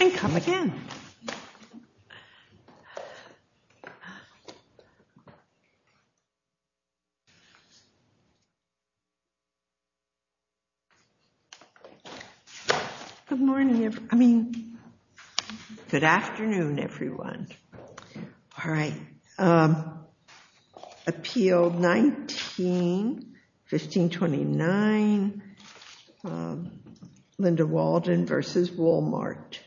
And come again. Good morning, I mean good afternoon everyone. All right. Appeal 19-1529 Linda Walden v. Wal-Mart.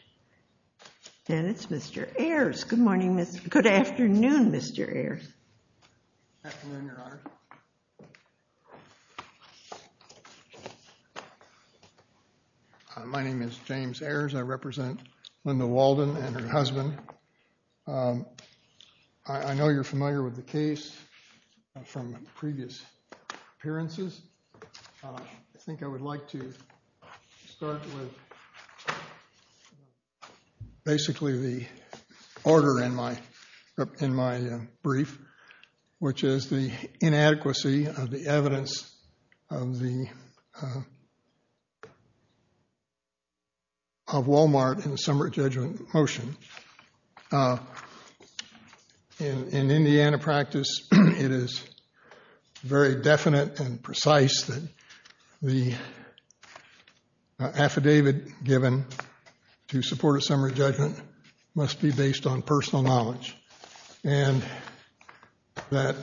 And it's Mr. Ayers. Good morning. Good afternoon, Mr. Ayers. My name is James Ayers. I represent Linda Walden and her husband. I know you're familiar with the I think I would like to start with basically the order in my brief, which is the inadequacy of the evidence of Wal-Mart in the summary judgment motion. In Indiana practice, it is very definite and precise that the affidavit given to support a summary judgment must be based on personal knowledge and that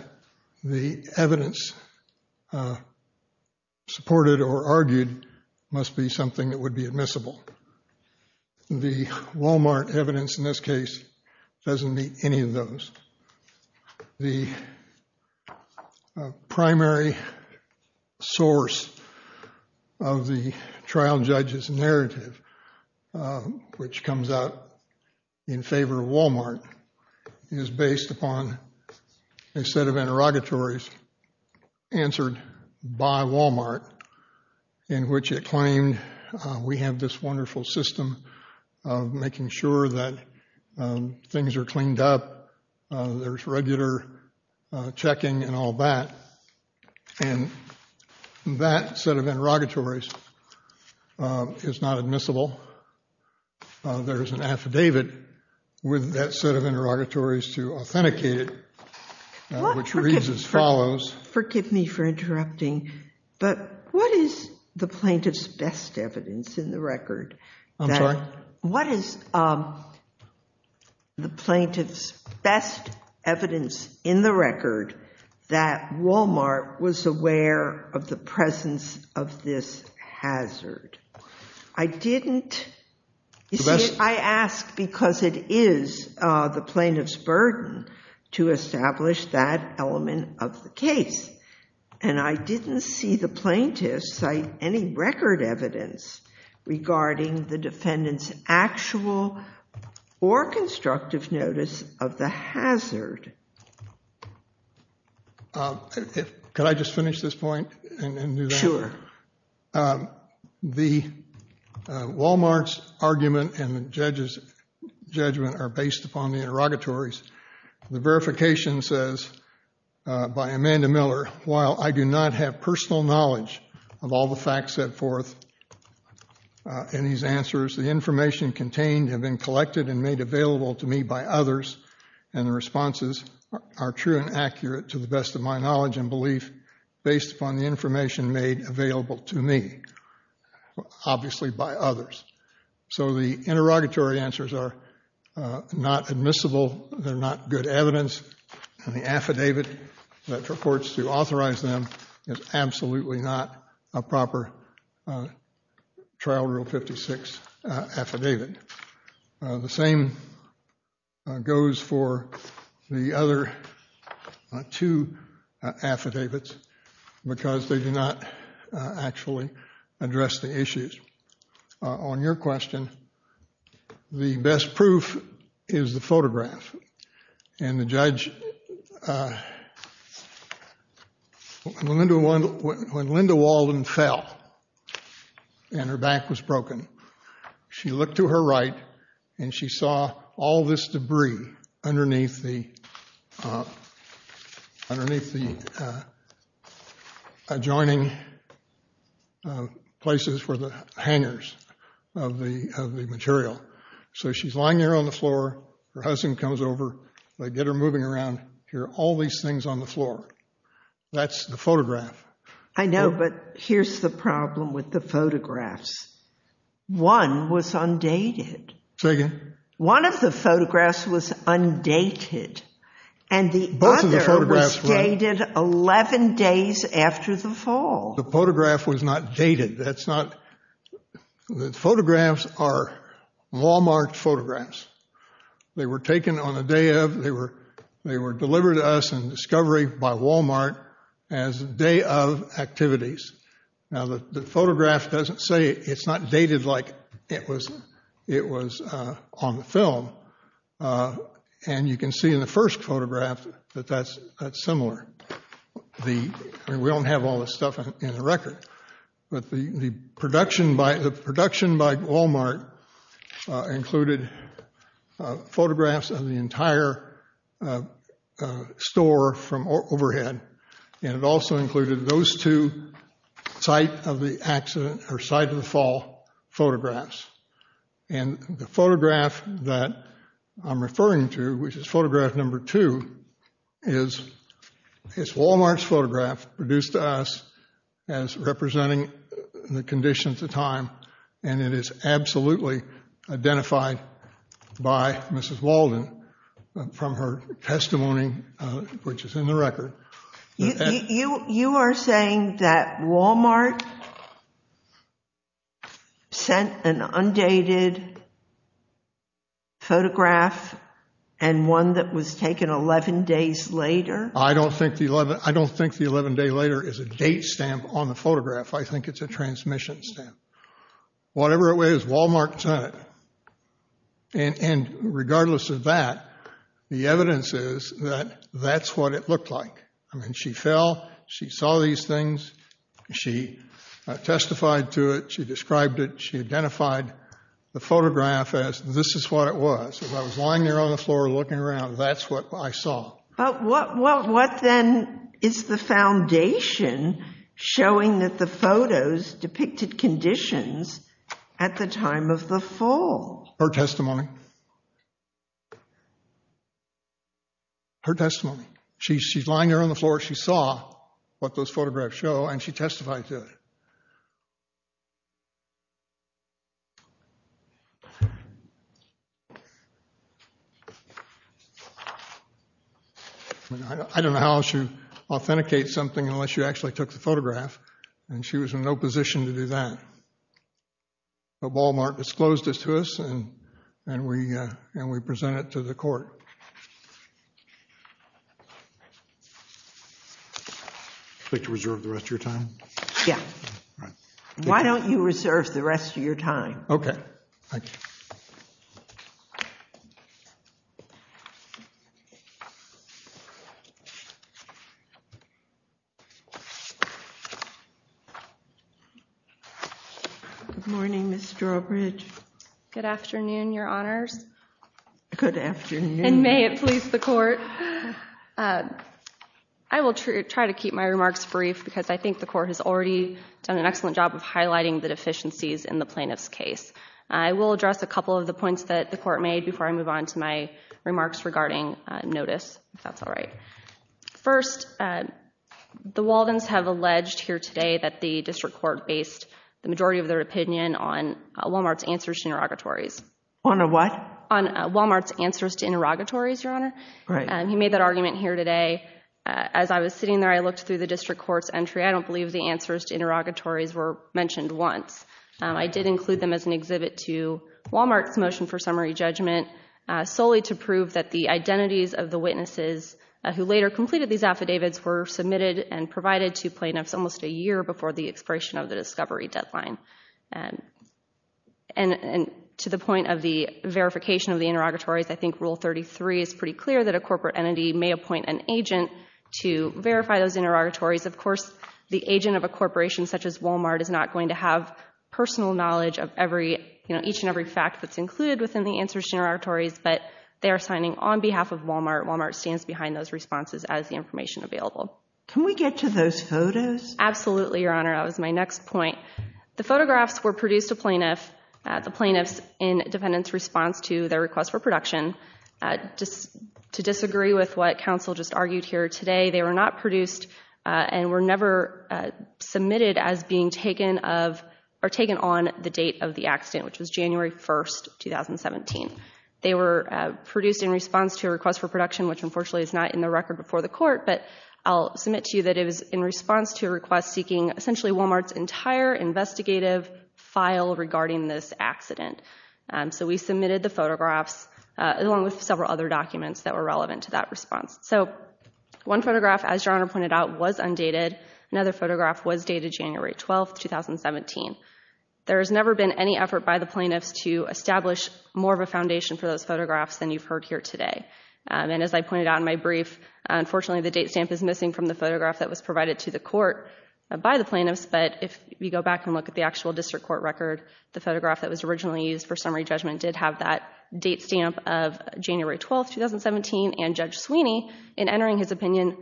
the evidence supported or argued must be something that would be admissible. The Wal-Mart evidence in this case doesn't meet any of those. The primary source of the trial judge's narrative, which comes out in favor of Wal-Mart, is based upon a set of interrogatories answered by Wal-Mart in which it claimed we have this Wal-Mart wonderful system of making sure that things are cleaned up, there's regular checking and all that. And that set of interrogatories is not admissible. There is an affidavit with that set of interrogatories to authenticate it, which reads as follows. Forgive me for interrupting, but what is the plaintiff's best evidence in the record? I'm sorry? What is the plaintiff's best evidence in the record that Wal-Mart was aware of the presence of this hazard? I asked because it is the plaintiff's burden to establish that element of the case. And I didn't see the plaintiff cite any record evidence regarding the defendant's actual or constructive notice of the hazard. Could I just finish this point? Sure. The Wal-Mart's argument and the judge's judgment are based upon the interrogatories. The verification says by Amanda Miller, while I do not have personal knowledge of all the facts set forth in these answers, the information contained have been collected and made available to me by others. And the responses are true and accurate to the best of my knowledge and belief based upon the information made available to me, obviously by others. So the interrogatory answers are not admissible. They're not good evidence. And the affidavit that purports to authorize them is absolutely not a proper Trial Rule 56 affidavit. The same goes for the other two affidavits because they do not actually address the issues. On your question, the best proof is the photograph. When Linda Walden fell and her back was broken, she looked to her right and she saw all this debris underneath the adjoining places for the hangers of the material. So she's lying there on the floor. Her husband comes over. They get her moving around. Here are all these things on the floor. That's the photograph. I know, but here's the problem with the photographs. One was undated. Say again? One of the photographs was undated and the other was dated 11 days after the fall. The photograph was not dated. The photographs are Wal-Mart photographs. They were taken on the day of. They were delivered to us in discovery by Wal-Mart as the day of activities. Now, the photograph doesn't say it's not dated like it was on the film. And you can see in the first photograph that that's similar. We don't have all this stuff in the record. But the production by Wal-Mart included photographs of the entire store from overhead. And it also included those two site of the accident or site of the fall photographs. And the photograph that I'm referring to, which is photograph number two, is Wal-Mart's photograph produced to us as representing the conditions of time. And it is absolutely identified by Mrs. Walden from her testimony, which is in the record. You are saying that Wal-Mart sent an undated photograph and one that was taken 11 days later? I don't think the 11 day later is a date stamp on the photograph. I think it's a transmission stamp. Whatever it was, Wal-Mart sent it. And regardless of that, the evidence is that that's what it looked like. I mean, she fell, she saw these things, she testified to it, she described it, she identified the photograph as this is what it was. As I was lying there on the floor looking around, that's what I saw. But what then is the foundation showing that the photos depicted conditions at the time of the fall? Her testimony. Her testimony. She's lying there on the floor, she saw what those photographs show, and she testified to it. I don't know how else you authenticate something unless you actually took the photograph, and she was in no position to do that. Wal-Mart disclosed this to us, and we presented it to the court. Would you like to reserve the rest of your time? Yeah. Why don't you reserve the rest of your time? Okay. Good morning, Ms. Strawbridge. Good afternoon, Your Honors. Good afternoon. And may it please the court. I will try to keep my remarks brief because I think the court has already done an excellent job of highlighting the deficiencies in the plaintiff's case. I will address a couple of the points that the court made before I move on to my remarks regarding notice, if that's all right. First, the Waldens have alleged here today that the district court based the majority of their opinion on Wal-Mart's answers to interrogatories. On a what? On Wal-Mart's answers to interrogatories, Your Honor. Right. He made that argument here today. As I was sitting there, I looked through the district court's entry. I don't believe the answers to interrogatories were mentioned once. I did include them as an exhibit to Wal-Mart's motion for summary judgment, solely to prove that the identities of the witnesses who later completed these affidavits were submitted and provided to plaintiffs almost a year before the expiration of the discovery deadline. To the point of the verification of the interrogatories, I think Rule 33 is pretty clear that a corporate entity may appoint an agent to verify those interrogatories. Of course, the agent of a corporation such as Wal-Mart is not going to have personal knowledge of each and every fact that's included within the answers to interrogatories, but they are signing on behalf of Wal-Mart. Wal-Mart stands behind those responses as the information available. Can we get to those photos? Absolutely, Your Honor. That was my next point. The photographs were produced to plaintiffs in defendants' response to their request for production. To disagree with what counsel just argued here today, they were not produced and were never submitted as being taken on the date of the accident, which was January 1, 2017. They were produced in response to a request for production, which unfortunately is not in the record before the court, but I'll submit to you that it was in response to a request seeking essentially Wal-Mart's entire investigative file regarding this accident. We submitted the photographs along with several other documents that were relevant to that response. One photograph, as Your Honor pointed out, was undated. Another photograph was dated January 12, 2017. There has never been any effort by the plaintiffs to establish more of a foundation for those photographs than you've heard here today. And as I pointed out in my brief, unfortunately the date stamp is missing from the photograph that was provided to the court by the plaintiffs. But if you go back and look at the actual district court record, the photograph that was originally used for summary judgment did have that date stamp of January 12, 2017. And Judge Sweeney, in entering his opinion,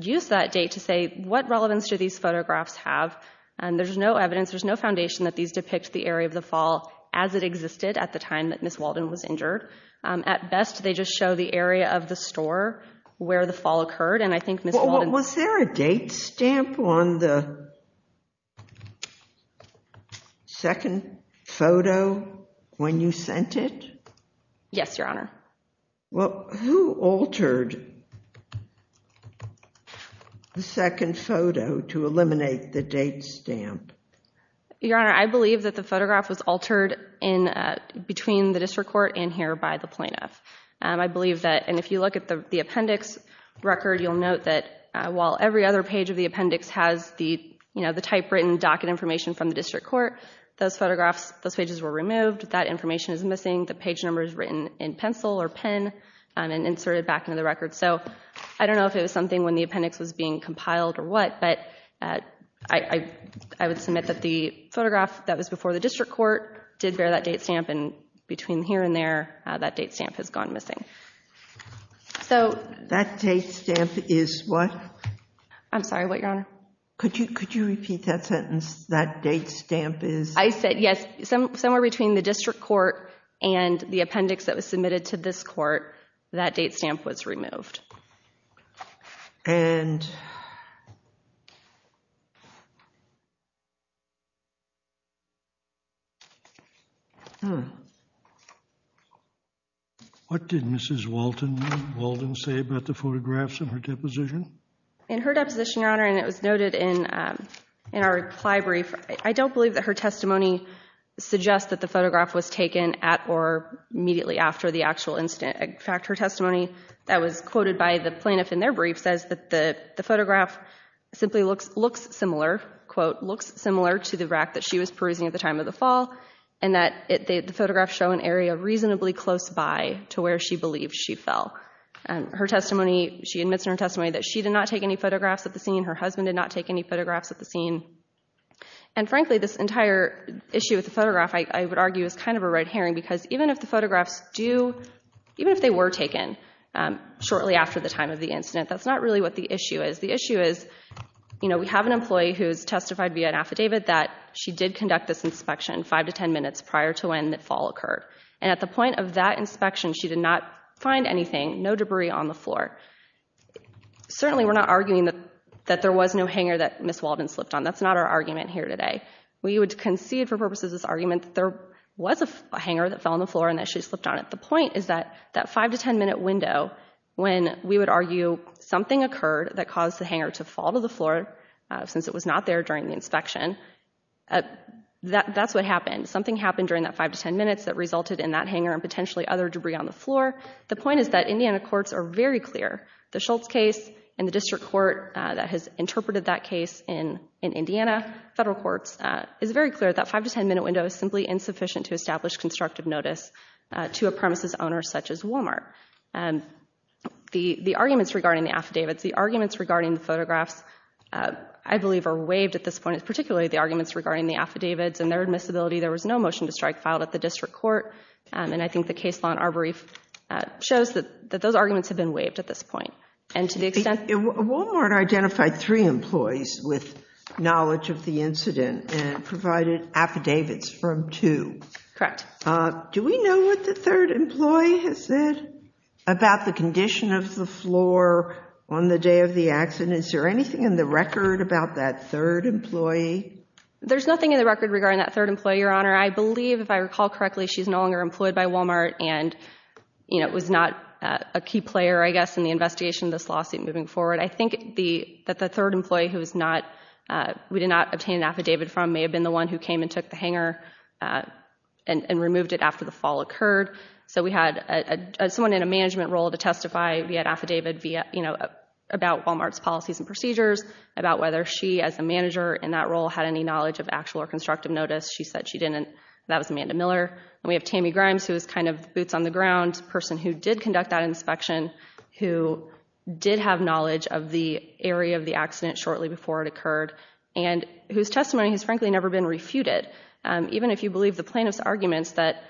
used that date to say, what relevance do these photographs have? There's no evidence, there's no foundation that these depict the area of the fall as it existed at the time that Ms. Walden was injured. At best, they just show the area of the store where the fall occurred. Was there a date stamp on the second photo when you sent it? Yes, Your Honor. Well, who altered the second photo to eliminate the date stamp? Your Honor, I believe that the photograph was altered between the district court and here by the plaintiff. I believe that, and if you look at the appendix record, you'll note that while every other page of the appendix has the typewritten docket information from the district court, those photographs, those pages were removed, that information is missing, the page number is written in pencil or pen and inserted back into the record. So I don't know if it was something when the appendix was being compiled or what, but I would submit that the photograph that was before the district court did bear that date stamp, and between here and there, that date stamp has gone missing. That date stamp is what? I'm sorry, what, Your Honor? Could you repeat that sentence, that date stamp is? I said, yes, somewhere between the district court and the appendix that was submitted to this court, that date stamp was removed. And... What did Mrs. Walden say about the photographs in her deposition? In her deposition, Your Honor, and it was noted in our reply brief, I don't believe that her testimony suggests that the photograph was taken at or immediately after the actual incident. In fact, her testimony that was quoted by the plaintiff in their brief says that the photograph simply looks similar, quote, looks similar to the rack that she was perusing at the time of the fall, and that the photographs show an area reasonably close by to where she believed she fell. Her testimony, she admits in her testimony that she did not take any photographs at the scene, her husband did not take any photographs at the scene, and frankly, this entire issue with the photograph, I would argue, is kind of a red herring, because even if the photographs do, even if they were taken shortly after the time of the incident, that's not really what the issue is. The issue is, you know, we have an employee who has testified via an affidavit that she did conduct this inspection five to ten minutes prior to when the fall occurred, and at the point of that inspection, she did not find anything, no debris on the floor. Certainly, we're not arguing that there was no hanger that Ms. Walden slipped on. That's not our argument here today. We would concede for purposes of this argument that there was a hanger that fell on the floor and that she slipped on it. The point is that that five to ten minute window, when we would argue something occurred that caused the hanger to fall to the floor, since it was not there during the inspection, that's what happened. Something happened during that five to ten minutes that resulted in that hanger and potentially other debris on the floor. The point is that Indiana courts are very clear. The Schultz case and the district court that has interpreted that case in Indiana federal courts is very clear that five to ten minute window is simply insufficient to establish constructive notice to a premises owner such as Walmart. The arguments regarding the affidavits, the arguments regarding the photographs, I believe are waived at this point, particularly the arguments regarding the affidavits and their admissibility. There was no motion to strike filed at the district court, and I think the case law in Arboreef shows that those arguments have been waived at this point. And to the extent... Walmart identified three employees with knowledge of the incident and provided affidavits from two. Correct. Do we know what the third employee has said about the condition of the floor on the day of the accident? Is there anything in the record about that third employee? There's nothing in the record regarding that third employee, Your Honor. I believe, if I recall correctly, she's no longer employed by Walmart and was not a key player, I guess, in the investigation of this lawsuit moving forward. I think that the third employee who we did not obtain an affidavit from may have been the one who came and took the hanger and removed it after the fall occurred. So we had someone in a management role to testify via an affidavit about Walmart's policies and procedures, about whether she, as a manager in that role, had any knowledge of actual or constructive notice. She said she didn't. That was Amanda Miller. And we have Tammy Grimes, who was kind of boots on the ground, a person who did conduct that inspection, who did have knowledge of the area of the accident shortly before it occurred, and whose testimony has frankly never been refuted. Even if you believe the plaintiff's arguments that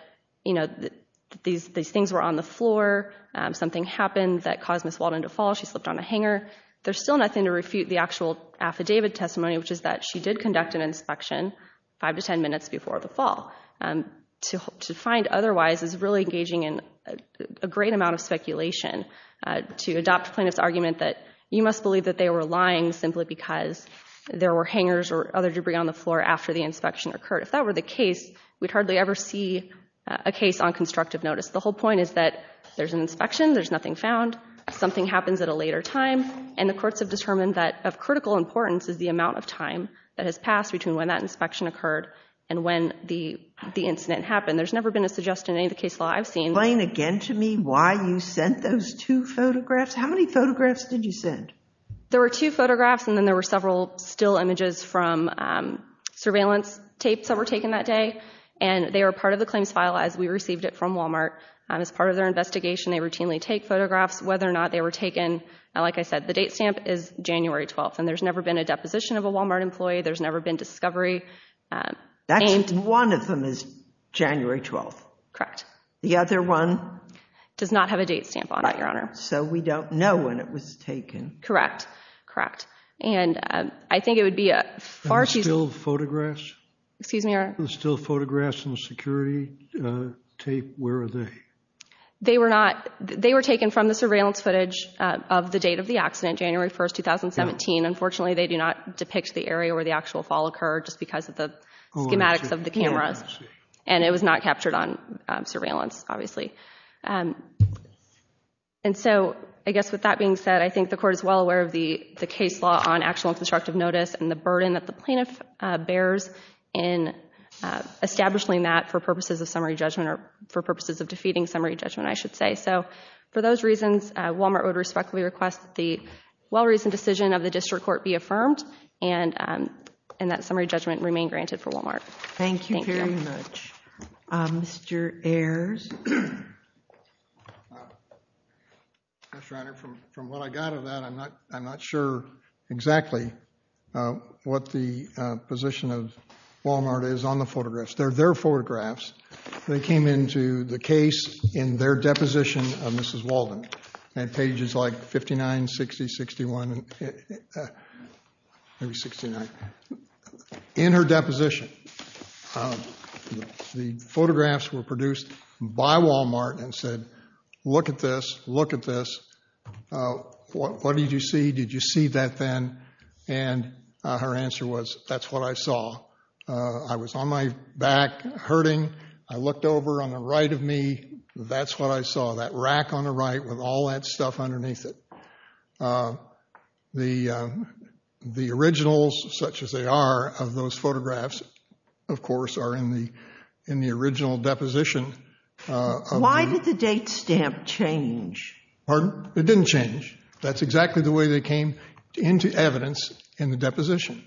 these things were on the floor, something happened that caused Ms. Walden to fall, she slipped on a hanger, there's still nothing to refute the actual affidavit testimony, which is that she did conduct an inspection five to ten minutes before the fall. To find otherwise is really engaging in a great amount of speculation. To adopt plaintiff's argument that you must believe that they were lying simply because there were hangers or other debris on the floor after the inspection occurred, if that were the case, we'd hardly ever see a case on constructive notice. The whole point is that there's an inspection, there's nothing found, something happens at a later time, and the courts have determined that of critical importance is the amount of time that has passed between when that inspection occurred and when the incident happened. There's never been a suggestion in any of the case law I've seen. Explain again to me why you sent those two photographs. How many photographs did you send? There were two photographs and then there were several still images from surveillance tapes that were taken that day, and they were part of the claims file as we received it from Walmart. As part of their investigation, they routinely take photographs. Whether or not they were taken, like I said, the date stamp is January 12th, and there's never been a deposition of a Walmart employee. There's never been discovery. That's one of them is January 12th. Correct. The other one? Does not have a date stamp on it, Your Honor. So we don't know when it was taken. Correct. And I think it would be a far too... Are there still photographs? Excuse me, Your Honor? Are there still photographs in the security tape? Where are they? They were taken from the surveillance footage of the date of the accident, January 1st, 2017. Unfortunately, they do not depict the area where the actual fall occurred just because of the schematics of the cameras, and it was not captured on surveillance, obviously. And so I guess with that being said, I think the Court is well aware of the case law on actual and constructive notice and the burden that the plaintiff bears in establishing that for purposes of summary judgment, or for purposes of defeating summary judgment, I should say. So for those reasons, Walmart would respectfully request that the well-reasoned decision of the District Court be affirmed and that summary judgment remain granted for Walmart. Thank you very much. Mr. Ayers? Yes, Your Honor. From what I got of that, I'm not sure exactly what the position of Walmart is on the photographs. They're their photographs. They came into the case in their deposition of Mrs. Walden at pages like 59, 60, 61, maybe 69. In her deposition, the photographs were produced by Walmart and said, look at this, look at this. What did you see? Did you see that then? And her answer was, that's what I saw. I was on my back hurting. I looked over on the right of me. That's what I saw, that rack on the right with all that stuff underneath it. The originals, such as they are, of those photographs, of course, are in the original deposition. Why did the date stamp change? Pardon? It didn't change. That's exactly the way they came into evidence in the deposition.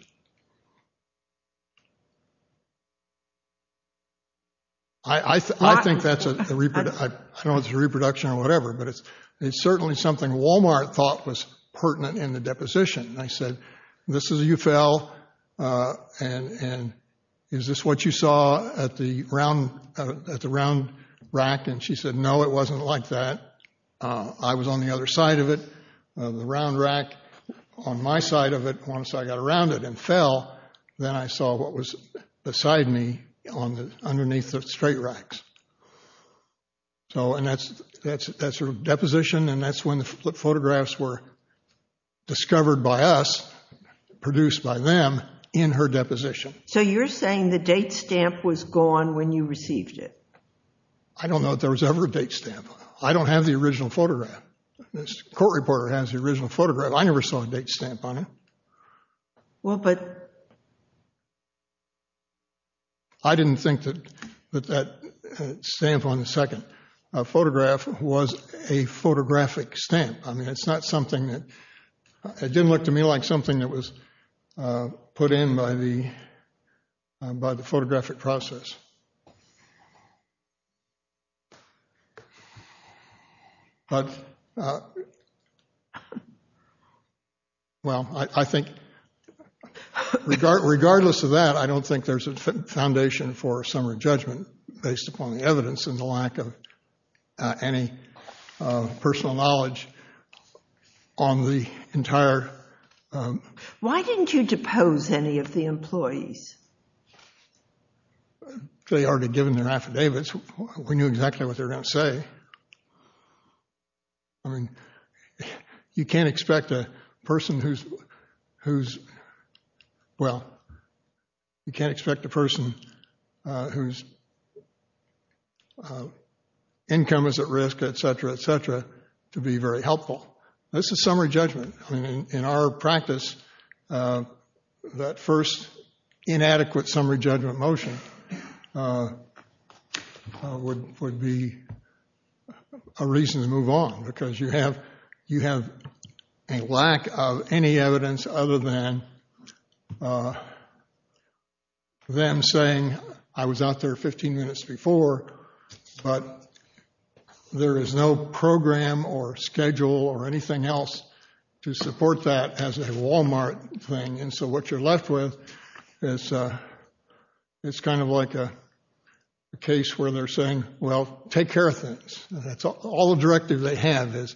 I think that's a reproduction or whatever, but it's certainly something Walmart thought was pertinent in the deposition. I said, this is you fell, and is this what you saw at the round rack? And she said, no, it wasn't like that. I was on the other side of it. The round rack on my side of it, once I got around it and fell, then I saw what was beside me underneath the straight racks. And that's her deposition, and that's when the photographs were discovered by us, produced by them, in her deposition. So you're saying the date stamp was gone when you received it? I don't know if there was ever a date stamp. I don't have the original photograph. This court reporter has the original photograph. I never saw a date stamp on it. I didn't think that that stamp on the second photograph was a photographic stamp. I mean, it's not something that, it didn't look to me like something that was put in by the photographic process. Well, I think, regardless of that, I don't think there's a foundation for summary judgment based upon the evidence and the lack of any personal knowledge on the entire... Why didn't you depose any of the employees? They already had given their affidavits. We knew exactly what they were going to say. You can't expect a person who's, well, you can't expect a person whose income is at risk, et cetera, et cetera, to be very helpful. This is summary judgment. I mean, in our practice, that first inadequate summary judgment motion would be a reason to move on, because you have a lack of any evidence other than them saying, I was out there 15 minutes before, but there is no program or schedule or anything else to support that as a Walmart thing. And so what you're left with is, it's kind of like a case where they're saying, well, take care of things. That's all the directive they have is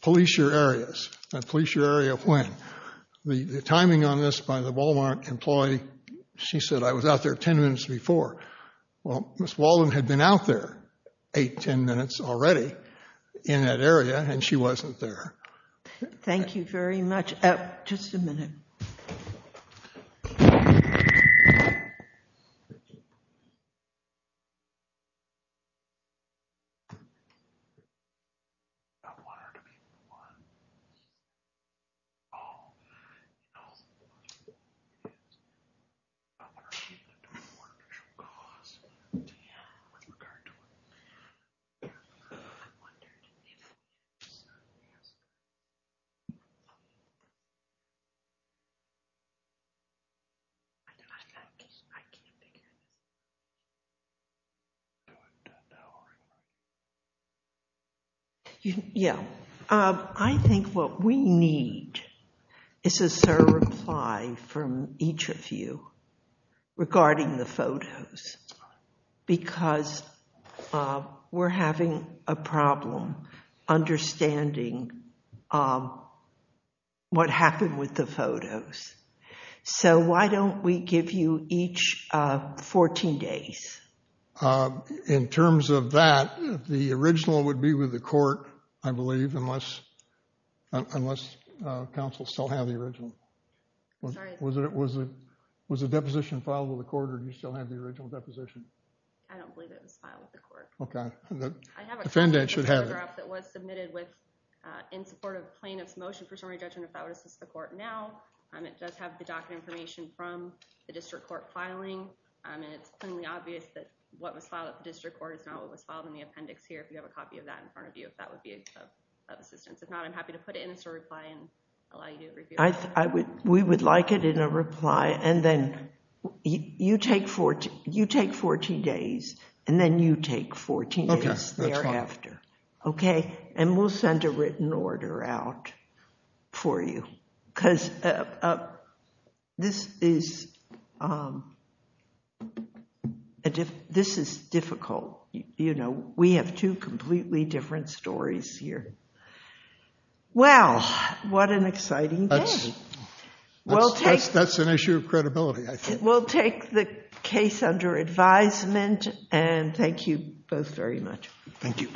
police your areas. Now, police your area of when? The timing on this by the Walmart employee, she said, I was out there 10 minutes before. Well, Ms. Walden had been out there eight, 10 minutes already in that area, and she wasn't there. Thank you very much. Just a minute. I want her to be one. Oh. Yeah. Yeah. Yeah, I think what we need is a reply from each of you regarding the photos, because we're having a problem understanding what happened with the photos. So why don't we give you each 14 days? In terms of that, the original would be with the court, I believe, unless counsel still have the original. Was the deposition filed with the court, or do you still have the original deposition? I don't believe it was filed with the court. Okay. The defendant should have it. It was submitted in support of plaintiff's motion for summary judgment, if that would assist the court now. It does have the docket information from the district court filing, and it's clearly obvious that what was filed at the district court is not what was filed in the appendix here, if you have a copy of that in front of you, if that would be of assistance. If not, I'm happy to put it in as a reply and allow you to review it. We would like it in a reply, and then you take 14 days, and then you take 14 days thereafter. Okay, that's fine. Okay? And we'll send a written order out for you, because this is difficult. You know, we have two completely different stories here. Well, what an exciting day. That's an issue of credibility, I think. We'll take the case under advisement, and thank you both very much. Thank you.